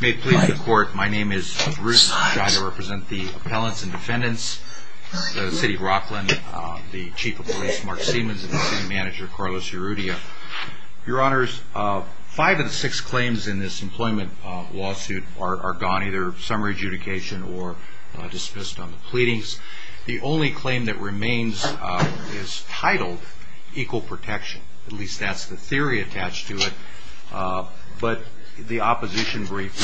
May it please the court, my name is Bruce and I represent the Appellants and Defendants, the City of Rockland, the Chief of Police Mark Siemens and the City Manager Carlos Urrutia. Your Honors, five of the six claims in this employment lawsuit are gone, either summary adjudication or dismissed on the pleadings. The only claim that remains is titled equal protection, at least that's the theory attached to it. But the opposition brief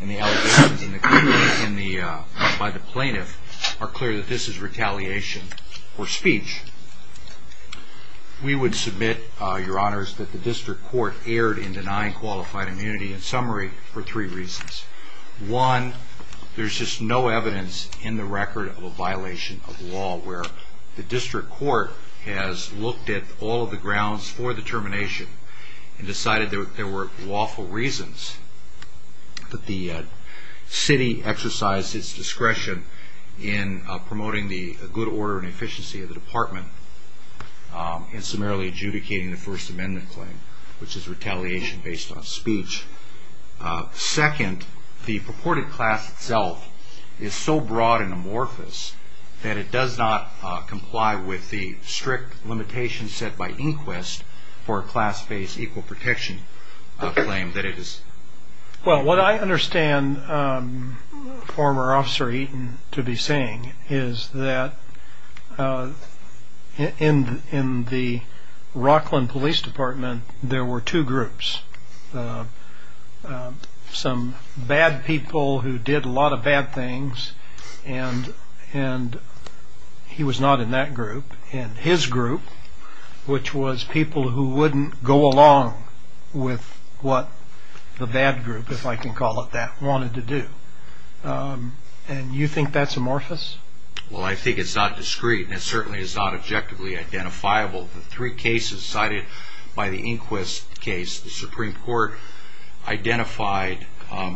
and the allegations by the plaintiff are clear that this is retaliation or speech. We would submit, Your Honors, that the District Court erred in denying qualified immunity in summary for three reasons. One, there's just no evidence in the record of a violation of law where the District Court has looked at all of the grounds for the termination and decided there were lawful reasons. The City exercised its discretion in promoting the good order and efficiency of the Department in summarily adjudicating the First Amendment claim, which is retaliation based on speech. Second, the purported class itself is so broad and amorphous that it does not comply with the strict limitations set by inquest for a class-based equal protection claim. Well, what I understand former Officer Eaton to be saying is that in the Rockland Police Department there were two groups, some bad people who did a lot of bad things, and he was not in that group, and his group, which was people who wouldn't go along with what the bad group, if I can call it that, wanted to do. And you think that's amorphous? Well, I think it's not discreet, and it certainly is not objectively identifiable. The three cases cited by the inquest case, the Supreme Court identified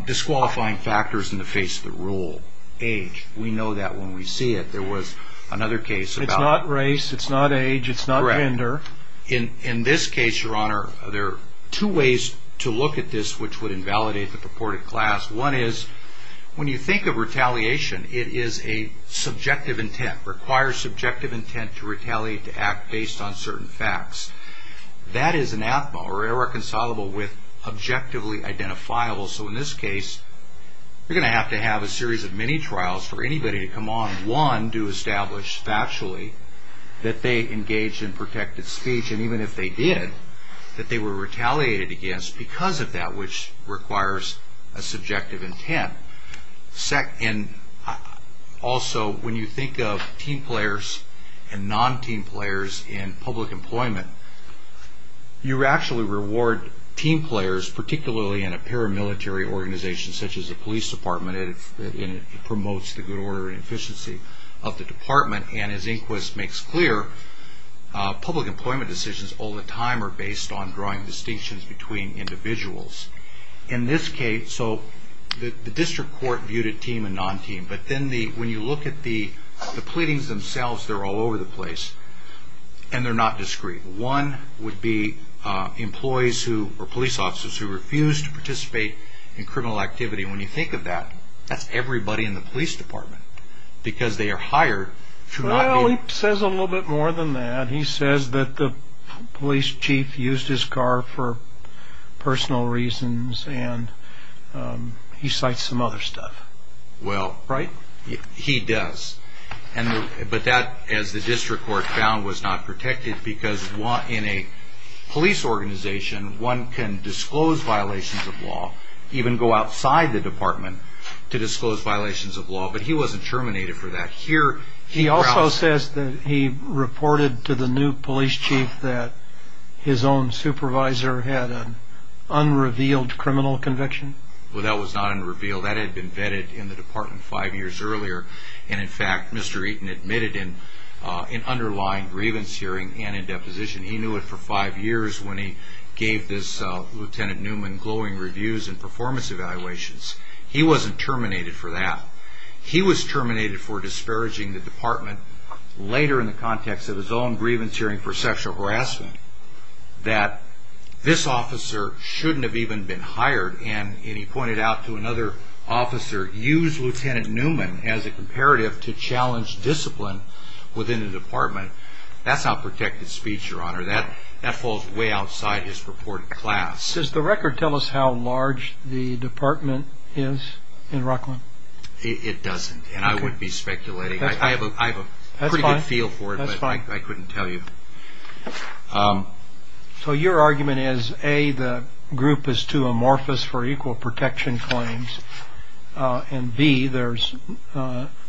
disqualifying factors in the face of the rule. Age, we know that when we see it. There was another case about... It's not race, it's not age, it's not gender. Correct. In this case, Your Honor, there are two ways to look at this which would invalidate the purported class. One is, when you think of retaliation, it is a subjective intent. It requires subjective intent to retaliate, to act based on certain facts. That is anathema, or irreconcilable with objectively identifiable. So in this case, you're going to have to have a series of mini-trials for anybody to come on. One, to establish factually that they engaged in protected speech, and even if they did, that they were retaliated against because of that, which requires a subjective intent. Also, when you think of team players and non-team players in public employment, you actually reward team players, particularly in a paramilitary organization, such as the police department, and it promotes the good order and efficiency of the department. And as Inquis makes clear, public employment decisions all the time are based on drawing distinctions between individuals. In this case, the district court viewed it team and non-team. But then when you look at the pleadings themselves, they're all over the place. And they're not discrete. One would be police officers who refuse to participate in criminal activity. When you think of that, that's everybody in the police department because they are hired to not be... Well, he says a little bit more than that. He says that the police chief used his car for personal reasons, and he cites some other stuff. Well... Right? He does. But that, as the district court found, was not protected because in a police organization, one can disclose violations of law, even go outside the department to disclose violations of law. But he wasn't terminated for that. He also says that he reported to the new police chief that his own supervisor had an unrevealed criminal conviction. Well, that was not unrevealed. That had been vetted in the department five years earlier. And, in fact, Mr. Eaton admitted in an underlying grievance hearing and in deposition, he knew it for five years when he gave this Lieutenant Newman glowing reviews and performance evaluations. He wasn't terminated for that. He was terminated for disparaging the department later in the context of his own grievance hearing for sexual harassment, that this officer shouldn't have even been hired. And he pointed out to another officer, use Lieutenant Newman as a comparative to challenge discipline within the department. That's not protected speech, Your Honor. That falls way outside his purported class. Does the record tell us how large the department is in Rockland? It doesn't, and I wouldn't be speculating. That's fine. I have a pretty good feel for it, but I couldn't tell you. So your argument is, A, the group is too amorphous for equal protection claims, and, B, there's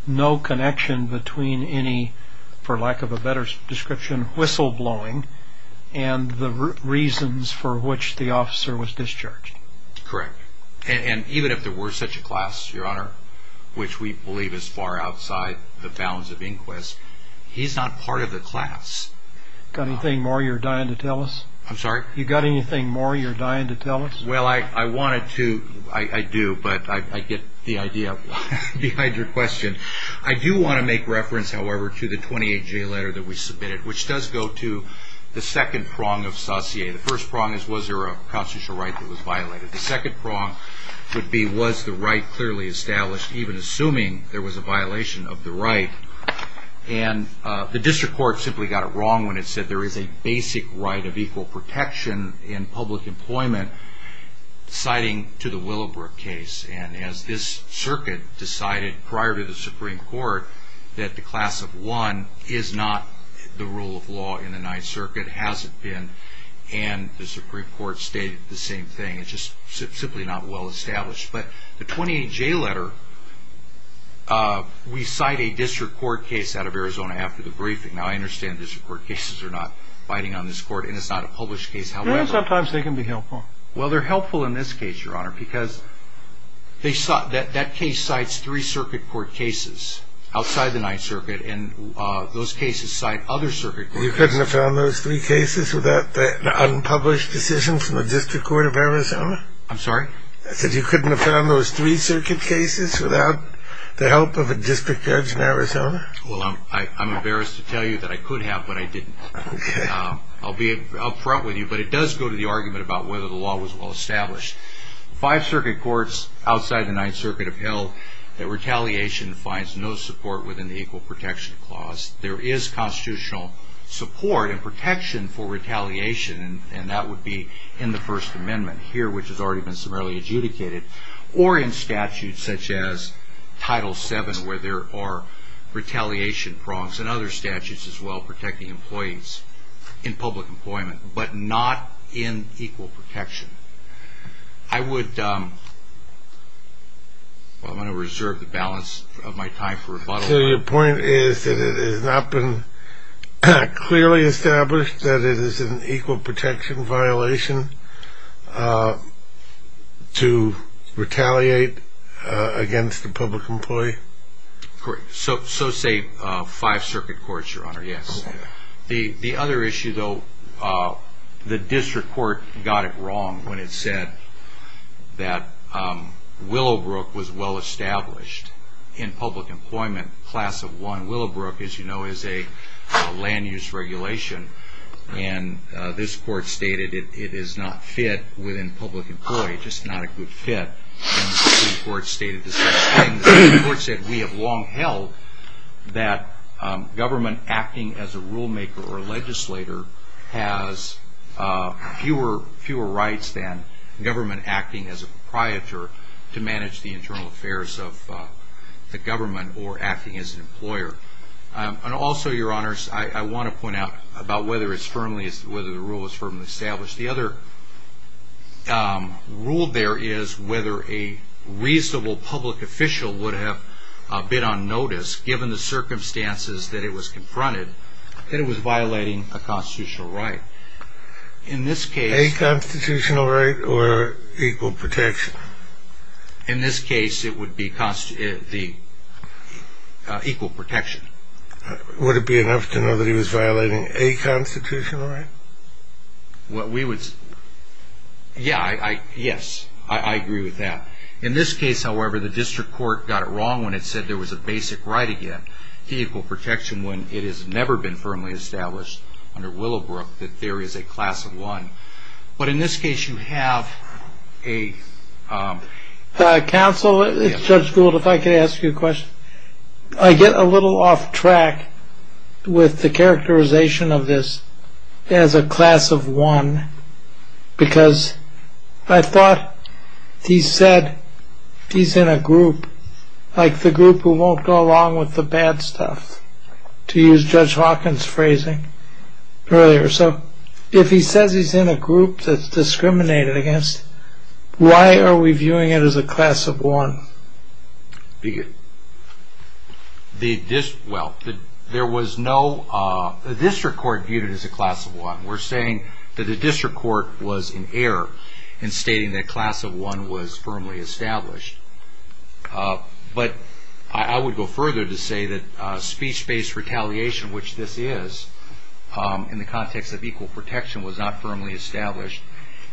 no connection between any, for lack of a better description, whistleblowing and the reasons for which the officer was discharged. Correct. And even if there were such a class, Your Honor, which we believe is far outside the bounds of inquest, he's not part of the class. Got anything more you're dying to tell us? I'm sorry? You got anything more you're dying to tell us? Well, I wanted to. I do, but I get the idea behind your question. I do want to make reference, however, to the 28-J letter that we submitted, which does go to the second prong of saucier. The first prong is, was there a constitutional right that was violated? The second prong would be, was the right clearly established, even assuming there was a violation of the right? And the district court simply got it wrong when it said there is a basic right of equal protection in public employment, citing to the Willowbrook case. And as this circuit decided prior to the Supreme Court that the class of one is not the rule of law in the Ninth Circuit, has it been, and the Supreme Court stated the same thing. It's just simply not well established. But the 28-J letter, we cite a district court case out of Arizona after the briefing. Now, I understand district court cases are not biting on this court, and it's not a published case, however. Yeah, sometimes they can be helpful. Well, they're helpful in this case, Your Honor, because that case cites three circuit court cases outside the Ninth Circuit, and those cases cite other circuit court cases. You couldn't have found those three cases without the unpublished decision from the district court of Arizona? I'm sorry? I said you couldn't have found those three circuit cases without the help of a district judge in Arizona? Well, I'm embarrassed to tell you that I could have, but I didn't. Okay. I'll be up front with you, but it does go to the argument about whether the law was well established. Five circuit courts outside the Ninth Circuit have held that retaliation finds no support within the equal protection clause. There is constitutional support and protection for retaliation, and that would be in the First Amendment here, which has already been summarily adjudicated, or in statutes such as Title VII, where there are retaliation prongs, and other statutes as well protecting employees in public employment, but not in equal protection. I would reserve the balance of my time for rebuttal. So your point is that it has not been clearly established that it is an equal protection violation to retaliate against a public employee? So say five circuit courts, Your Honor, yes. The other issue, though, the district court got it wrong when it said that Willowbrook was well established in public employment, Willowbrook, as you know, is a land-use regulation, and this court stated it is not fit within public employment, just not a good fit. And the district court stated the same thing. The court said we have long held that government acting as a rulemaker or legislator has fewer rights than government acting as a proprietor to manage the internal affairs of the government or acting as an employer. And also, Your Honors, I want to point out about whether the rule is firmly established. The other rule there is whether a reasonable public official would have been on notice, given the circumstances that it was confronted, that it was violating a constitutional right. A constitutional right or equal protection? In this case, it would be equal protection. Would it be enough to know that he was violating a constitutional right? Yes, I agree with that. In this case, however, the district court got it wrong when it said there was a basic right again to equal protection when it has never been firmly established under Willowbrook that there is a class of one. But in this case, you have a... Counsel, Judge Gould, if I could ask you a question. I get a little off track with the characterization of this as a class of one because I thought he said he's in a group, like the group who won't go along with the bad stuff, to use Judge Hawkins' phrasing earlier. So if he says he's in a group that's discriminated against, why are we viewing it as a class of one? Well, the district court viewed it as a class of one. We're saying that the district court was in error in stating that class of one was firmly established. But I would go further to say that speech-based retaliation, which this is in the context of equal protection, was not firmly established.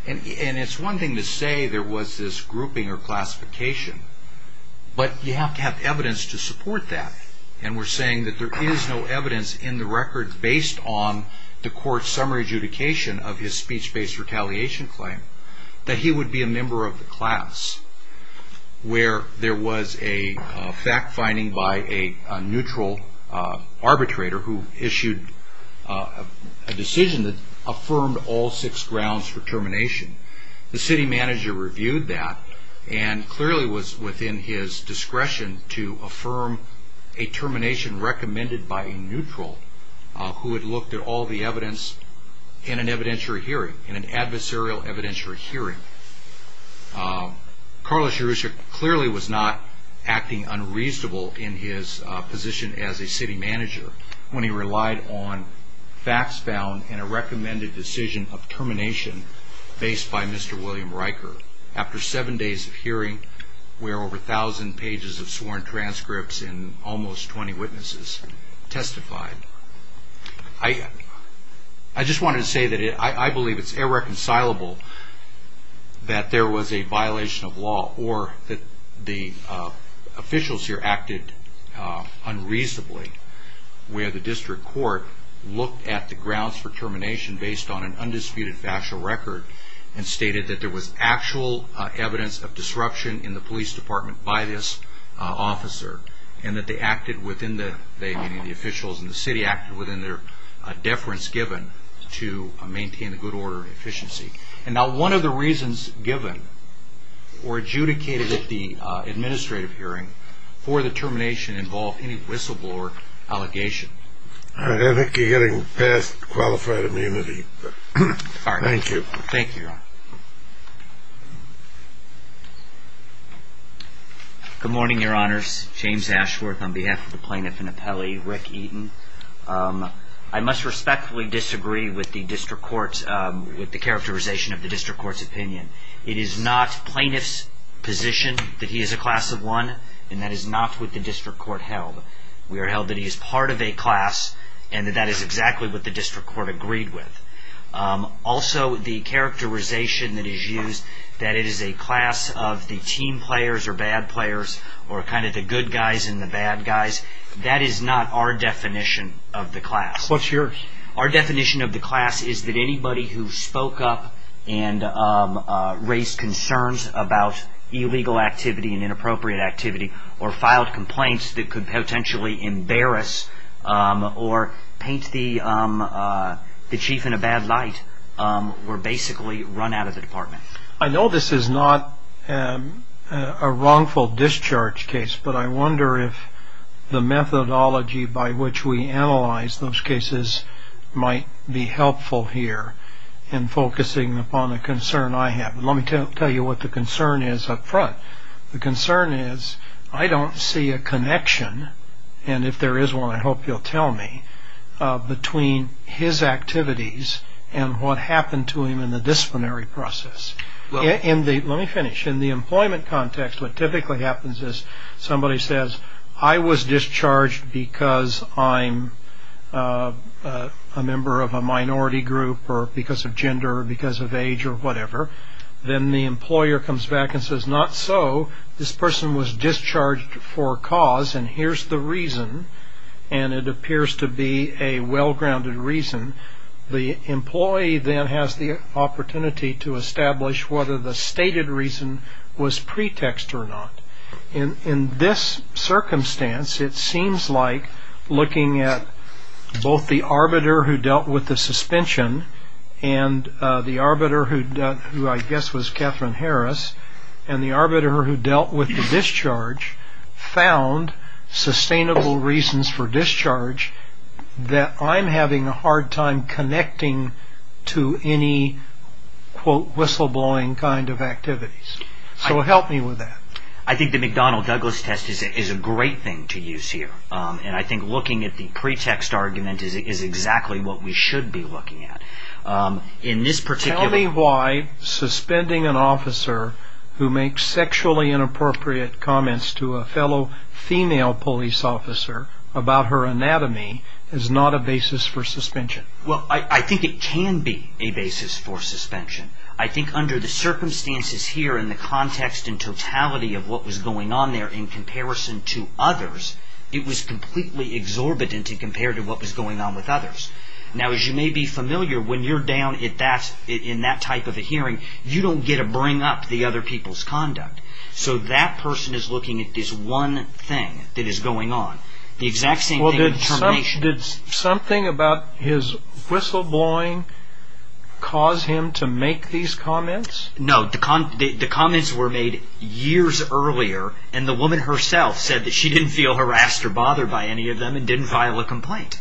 And it's one thing to say there was this grouping or classification, but you have to have evidence to support that. And we're saying that there is no evidence in the record based on the court's summary adjudication of his speech-based retaliation claim that he would be a member of the class where there was a fact-finding by a neutral arbitrator who issued a decision that affirmed all six grounds for termination. The city manager reviewed that and clearly was within his discretion to affirm a termination recommended by a neutral who had looked at all the evidence in an evidentiary hearing, in an adversarial evidentiary hearing. Carlos Yerusha clearly was not acting unreasonable in his position as a city manager when he relied on facts found in a recommended decision of termination based by Mr. William Riker. After seven days of hearing where over 1,000 pages of sworn transcripts and almost 20 witnesses testified. I just wanted to say that I believe it's irreconcilable that there was a violation of law or that the officials here acted unreasonably where the district court looked at the grounds for termination based on an undisputed factual record and stated that there was actual evidence of disruption in the police department by this officer and that the officials and the city acted within their deference given to maintain the good order and efficiency. Now one of the reasons given or adjudicated at the administrative hearing for the termination involved any whistleblower allegation. I think you're getting past qualified immunity. Thank you. Good morning, your honors. James Ashworth on behalf of the plaintiff and appellee, Rick Eaton. I must respectfully disagree with the characterization of the district court's opinion. It is not plaintiff's position that he is a class of one and that is not what the district court held. We are held that he is part of a class and that that is exactly what the district court agreed with. Also the characterization that is used that it is a class of the team players or bad players or kind of the good guys and the bad guys, that is not our definition of the class. Our definition of the class is that anybody who spoke up and raised concerns about illegal activity and inappropriate activity or filed complaints that could potentially embarrass or paint the chief in a bad light were basically run out of the department. I know this is not a wrongful discharge case, but I wonder if the methodology by which we analyze those cases might be helpful here in focusing upon the concern I have. Let me tell you what the concern is up front. The concern is I don't see a connection, and if there is one I hope you'll tell me, between his activities and what happened to him in the disciplinary process. Let me finish. In the employment context what typically happens is somebody says, I was discharged because I'm a member of a minority group or because of gender or because of age or whatever. Then the employer comes back and says, not so. This person was discharged for a cause, and here's the reason, and it appears to be a well-grounded reason. The employee then has the opportunity to establish whether the stated reason was pretext or not. In this circumstance it seems like looking at both the arbiter who dealt with the suspension and the arbiter who dealt with the discharge found sustainable reasons for discharge that I'm having a hard time connecting to any whistleblowing kind of activities. So help me with that. I think the McDonnell-Douglas test is a great thing to use here. I think looking at the pretext argument is exactly what we should be looking at. Tell me why suspending an officer who makes sexually inappropriate comments to a fellow female police officer about her anatomy is not a basis for suspension. I think it can be a basis for suspension. I think under the circumstances here and the context and totality of what was going on there in comparison to others, it was completely exorbitant compared to what was going on with others. Now as you may be familiar, when you're down in that type of a hearing, you don't get to bring up the other people's conduct. So that person is looking at this one thing that is going on. The exact same thing with termination. Did something about his whistleblowing cause him to make these comments? No, the comments were made years earlier, and the woman herself said that she didn't feel harassed or bothered by any of them and didn't file a complaint.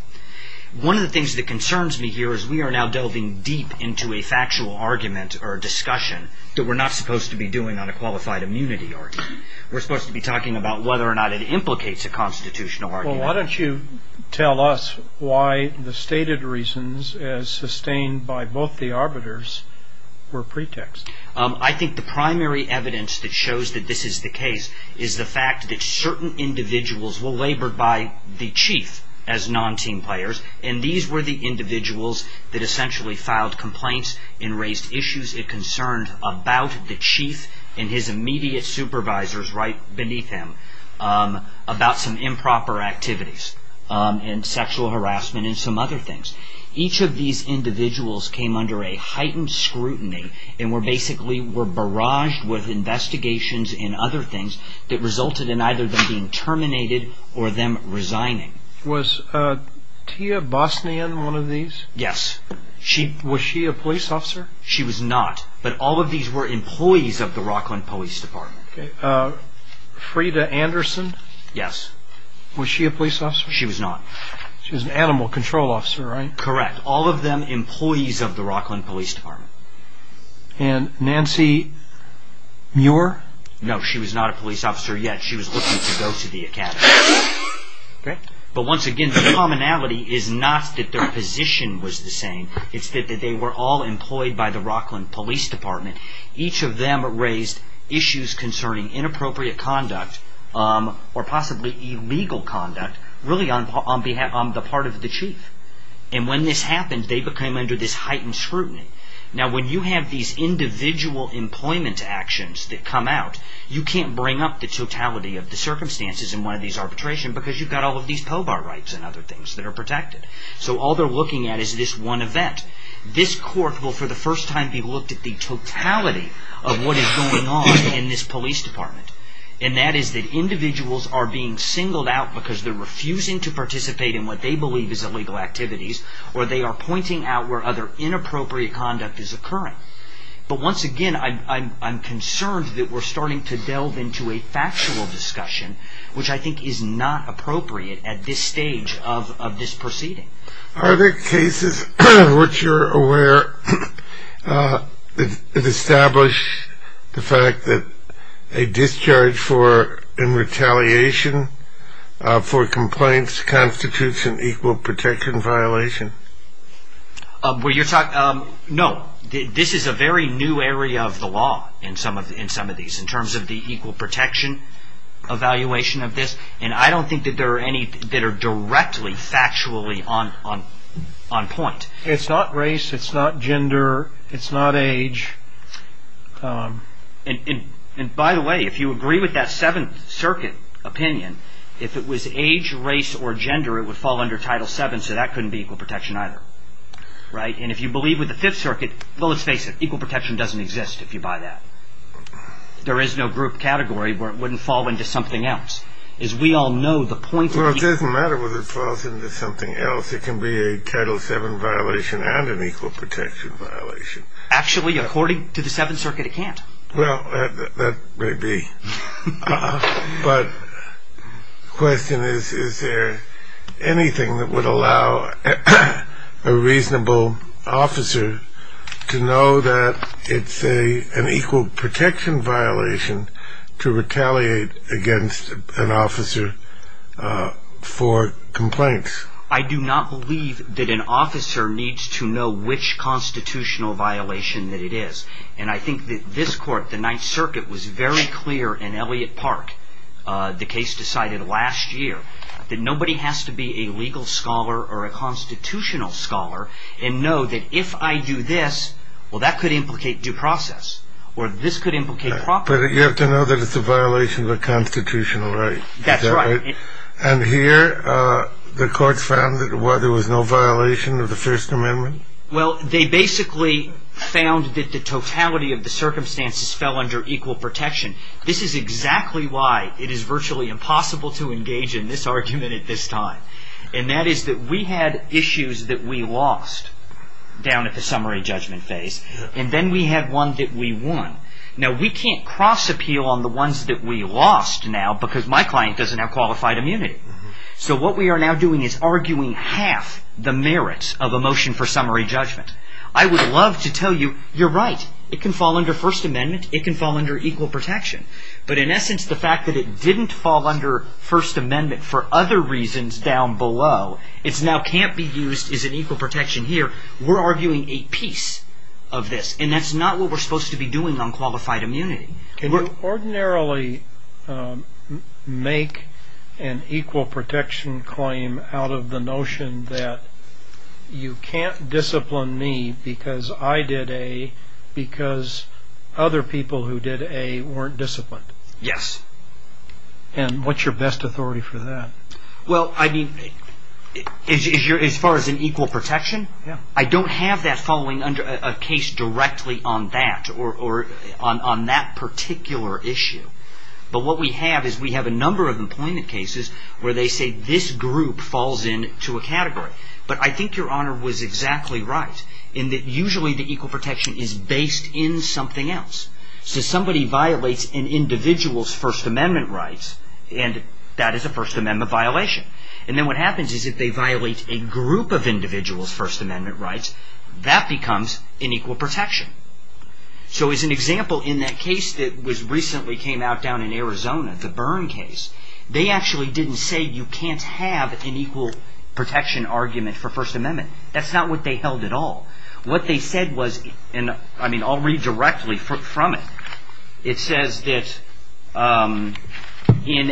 One of the things that concerns me here is we are now delving deep into a factual argument or discussion that we're not supposed to be doing on a qualified immunity argument. We're supposed to be talking about whether or not it implicates a constitutional argument. Well, why don't you tell us why the stated reasons, as sustained by both the arbiters, were pretext? I think the primary evidence that shows that this is the case is the fact that certain individuals were labored by the chief as non-team players, and these were the individuals that essentially filed complaints and raised issues of concern about the chief and his immediate supervisors right beneath him about some improper activities and sexual harassment and some other things. Each of these individuals came under a heightened scrutiny and were basically barraged with investigations and other things that resulted in either them being terminated or them resigning. Was Tia Bosnian one of these? Yes. Was she a police officer? She was not, but all of these were employees of the Rockland Police Department. Okay. Freda Anderson? Yes. Was she a police officer? She was not. She was an animal control officer, right? Correct. But all of them employees of the Rockland Police Department. And Nancy Muir? No, she was not a police officer yet. She was looking to go to the academy. But once again, the commonality is not that their position was the same. It's that they were all employed by the Rockland Police Department. Each of them raised issues concerning inappropriate conduct or possibly illegal conduct really on the part of the chief. And when this happened, they became under this heightened scrutiny. Now when you have these individual employment actions that come out, you can't bring up the totality of the circumstances in one of these arbitrations because you've got all of these POBAR rights and other things that are protected. So all they're looking at is this one event. This court will for the first time be looked at the totality of what is going on in this police department. And that is that individuals are being singled out because they're refusing to participate in what they believe is illegal activities or they are pointing out where other inappropriate conduct is occurring. But once again, I'm concerned that we're starting to delve into a factual discussion which I think is not appropriate at this stage of this proceeding. Are there cases in which you're aware that establish the fact that a discharge in retaliation for complaints constitutes an equal protection violation? No. This is a very new area of the law in some of these in terms of the equal protection evaluation of this. And I don't think that there are any that are directly factually on point. It's not race, it's not gender, it's not age. And by the way, if you agree with that Seventh Circuit opinion, if it was age, race, or gender, it would fall under Title VII, so that couldn't be equal protection either. And if you believe with the Fifth Circuit, well, let's face it, equal protection doesn't exist if you buy that. There is no group category where it wouldn't fall into something else. As we all know, the point of... Well, it doesn't matter whether it falls into something else. It can be a Title VII violation and an equal protection violation. Actually, according to the Seventh Circuit, it can't. Well, that may be. But the question is, is there anything that would allow a reasonable officer to know that it's an equal protection violation to retaliate against an officer for complaints? I do not believe that an officer needs to know which constitutional violation that it is. And I think that this Court, the Ninth Circuit, was very clear in Elliott Park, the case decided last year, that nobody has to be a legal scholar or a constitutional scholar and know that if I do this, well, that could implicate due process, or this could implicate property. But you have to know that it's a violation of a constitutional right. That's right. And here, the Court found that there was no violation of the First Amendment? Well, they basically found that the totality of the circumstances fell under equal protection. This is exactly why it is virtually impossible to engage in this argument at this time. And that is that we had issues that we lost down at the summary judgment phase. And then we had one that we won. Now, we can't cross-appeal on the ones that we lost now because my client doesn't have qualified immunity. So what we are now doing is arguing half the merits of a motion for summary judgment. I would love to tell you, you're right, it can fall under First Amendment, it can fall under equal protection. But in essence, the fact that it didn't fall under First Amendment for other reasons down below, it now can't be used as an equal protection here, we're arguing a piece of this. And that's not what we're supposed to be doing on qualified immunity. Can you ordinarily make an equal protection claim out of the notion that you can't discipline me because I did A because other people who did A weren't disciplined? Yes. And what's your best authority for that? Well, I mean, as far as an equal protection, I don't have that falling under a case directly on that or on that particular issue. But what we have is we have a number of employment cases where they say this group falls into a category. But I think Your Honor was exactly right in that usually the equal protection is based in something else. So somebody violates an individual's First Amendment rights and that is a First Amendment violation. And then what happens is if they violate a group of individuals' First Amendment rights, that becomes an equal protection. So as an example, in that case that recently came out down in Arizona, the Byrne case, they actually didn't say you can't have an equal protection argument for First Amendment. That's not what they held at all. What they said was, and I mean, I'll read directly from it. It says that in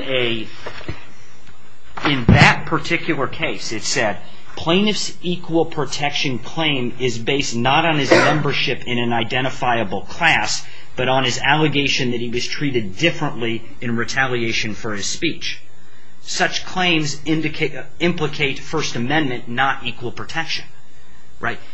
that particular case, it said, plaintiff's equal protection claim is based not on his membership in an identifiable class, but on his allegation that he was treated differently in retaliation for his speech. Such claims implicate First Amendment, not equal protection.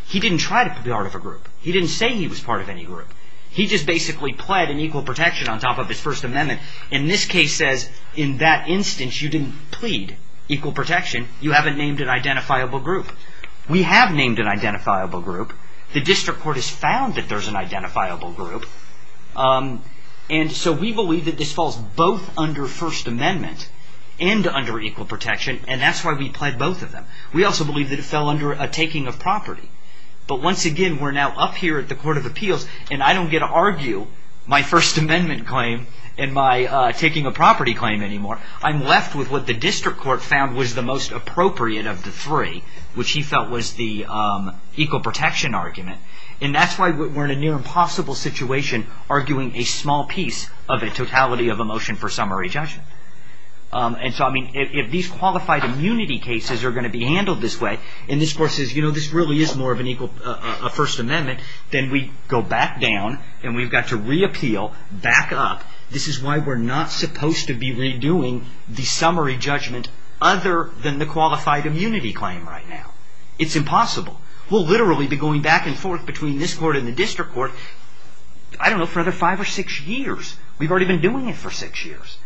He didn't try to be part of a group. He didn't say he was part of any group. He just basically pled in equal protection on top of his First Amendment. And this case says, in that instance, you didn't plead equal protection. You haven't named an identifiable group. We have named an identifiable group. The district court has found that there's an identifiable group. And so we believe that this falls both under First Amendment and under equal protection, and that's why we pled both of them. We also believe that it fell under a taking of property. But once again, we're now up here at the Court of Appeals, and I don't get to argue my First Amendment claim and my taking of property claim anymore. I'm left with what the district court found was the most appropriate of the three, which he felt was the equal protection argument. And that's why we're in a near-impossible situation arguing a small piece of a totality of a motion for summary judgment. And so, I mean, if these qualified immunity cases are going to be handled this way, and this Court says, you know, this really is more of a First Amendment, then we go back down and we've got to reappeal, back up. This is why we're not supposed to be redoing the summary judgment other than the qualified immunity claim right now. It's impossible. We'll literally be going back and forth between this Court and the district court, I don't know, for another five or six years. We've already been doing it for six years.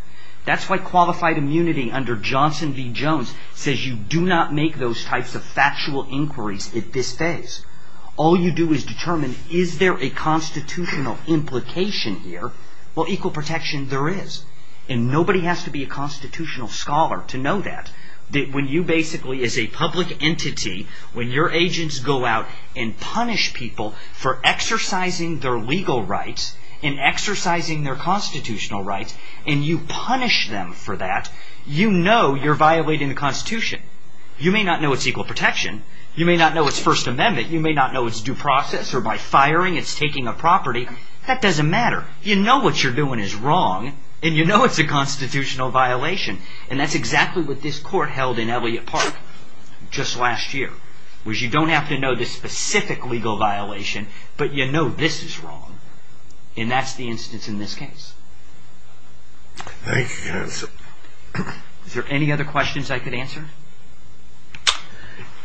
That's why qualified immunity under Johnson v. Jones says you do not make those types of factual inquiries at this phase. All you do is determine, is there a constitutional implication here? Well, equal protection, there is. And nobody has to be a constitutional scholar to know that. When you basically, as a public entity, when your agents go out and punish people for exercising their legal rights and exercising their constitutional rights, and you punish them for that, you know you're violating the Constitution. You may not know it's equal protection, you may not know it's First Amendment, you may not know it's due process, or by firing it's taking a property, that doesn't matter. You know what you're doing is wrong, and you know it's a constitutional violation. And that's exactly what this Court held in Elliott Park just last year. You don't have to know the specific legal violation, but you know this is wrong, and that's the instance in this case. Thank you, counsel. Is there any other questions I could answer?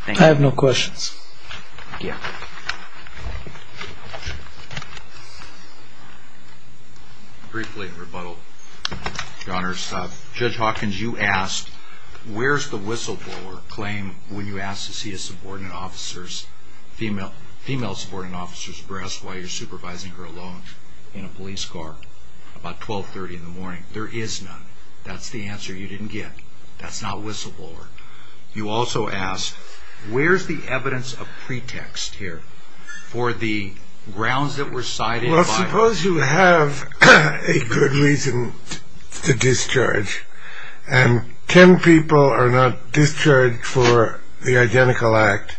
I have no questions. Thank you. Briefly in rebuttal, Your Honors, Judge Hawkins, you asked, where's the whistleblower claim when you ask to see a subordinate officer's, female subordinate officer's breast while you're supervising her alone in a police car about 1230 in the morning? There is none. That's the answer you didn't get. That's not whistleblower. You also asked, where's the evidence of pretext here for the grounds that were cited by... Well, suppose you have a good reason to discharge, and ten people are not discharged for the identical act,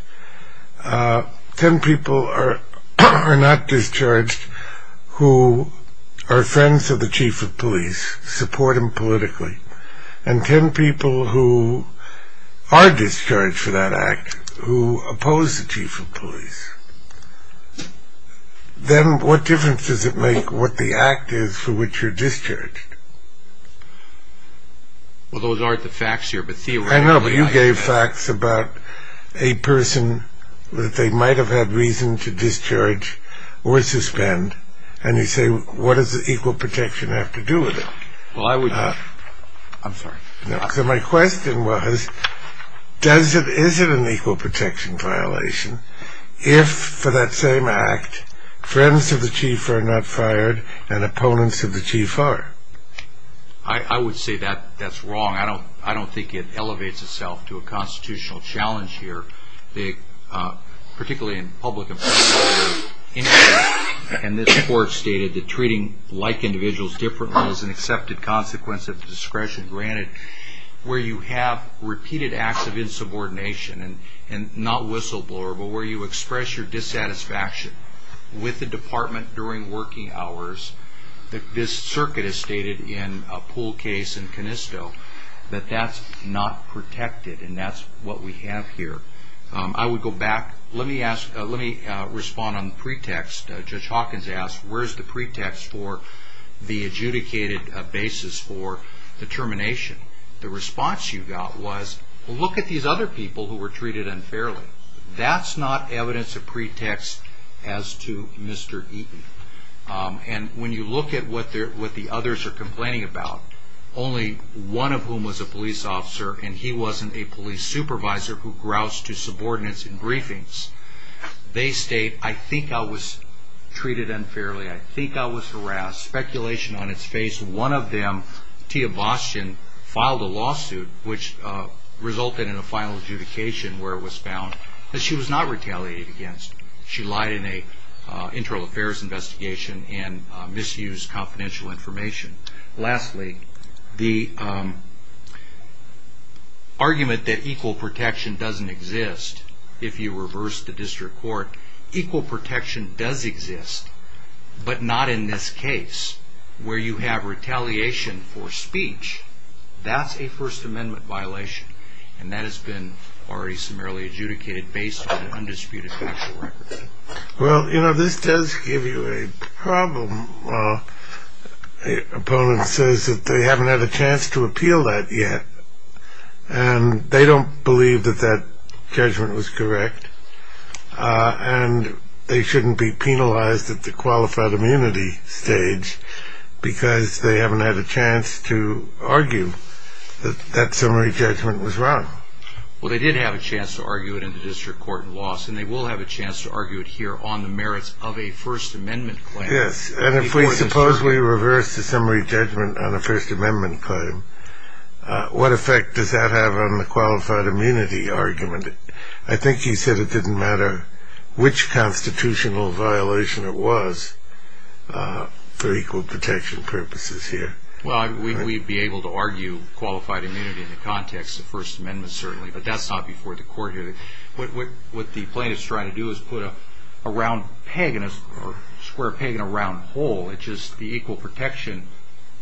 ten people are not discharged who are friends of the chief of police, support him politically, and ten people who are discharged for that act who oppose the chief of police. Then what difference does it make what the act is for which you're discharged? Well, those aren't the facts here, but theoretically... I know, but you gave facts about a person that they might have had reason to discharge or suspend, and you say, what does equal protection have to do with it? Well, I would... I'm sorry. So my question was, is it an equal protection violation if, for that same act, friends of the chief are not fired and opponents of the chief are? I would say that's wrong. I don't think it elevates itself to a constitutional challenge here, particularly in public... And this court stated that treating like individuals differently is an accepted consequence of discretion. Granted, where you have repeated acts of insubordination, and not whistleblower, but where you express your dissatisfaction with the department during working hours, this circuit is stated in a pool case in Canisto, that that's not protected, and that's what we have here. I would go back... Let me respond on the pretext. Judge Hawkins asked, where's the pretext for the adjudicated basis for the termination? The response you got was, look at these other people who were treated unfairly. That's not evidence of pretext as to Mr. Eaton. And when you look at what the others are complaining about, only one of whom was a police officer, and he wasn't a police supervisor who groused to subordinates in briefings. They state, I think I was treated unfairly. I think I was harassed. Speculation on its face. One of them, Tia Bostian, filed a lawsuit, which resulted in a final adjudication where it was found that she was not retaliated against. She lied in an internal affairs investigation and misused confidential information. Lastly, the argument that equal protection doesn't exist, if you reverse the district court, equal protection does exist, but not in this case, where you have retaliation for speech. That's a First Amendment violation, and that has been already summarily adjudicated based on undisputed factual records. Well, you know, this does give you a problem when an opponent says that they haven't had a chance to appeal that yet, and they don't believe that that judgment was correct, and they shouldn't be penalized at the qualified immunity stage because they haven't had a chance to argue that that summary judgment was wrong. Well, they did have a chance to argue it in the district court in Loss, and they will have a chance to argue it here on the merits of a First Amendment claim. Yes, and if we supposedly reverse the summary judgment on a First Amendment claim, what effect does that have on the qualified immunity argument? I think you said it didn't matter which constitutional violation it was for equal protection purposes here. Well, we'd be able to argue qualified immunity in the context of First Amendment, certainly, but that's not before the court here. What the plaintiff's trying to do is put a square peg in a round hole. It's just the equal protection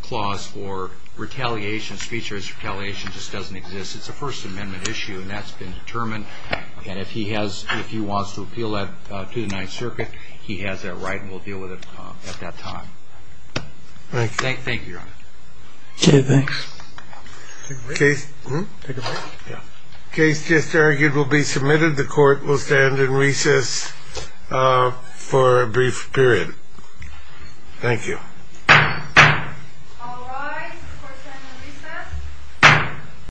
clause for retaliation. Speech-based retaliation just doesn't exist. It's a First Amendment issue, and that's been determined. And if he wants to appeal that to the Ninth Circuit, he has that right, and we'll deal with it at that time. Thank you, Your Honor. Take a break? The case just argued will be submitted. The court will stand in recess for a brief period. Thank you. All rise. The court stands in recess.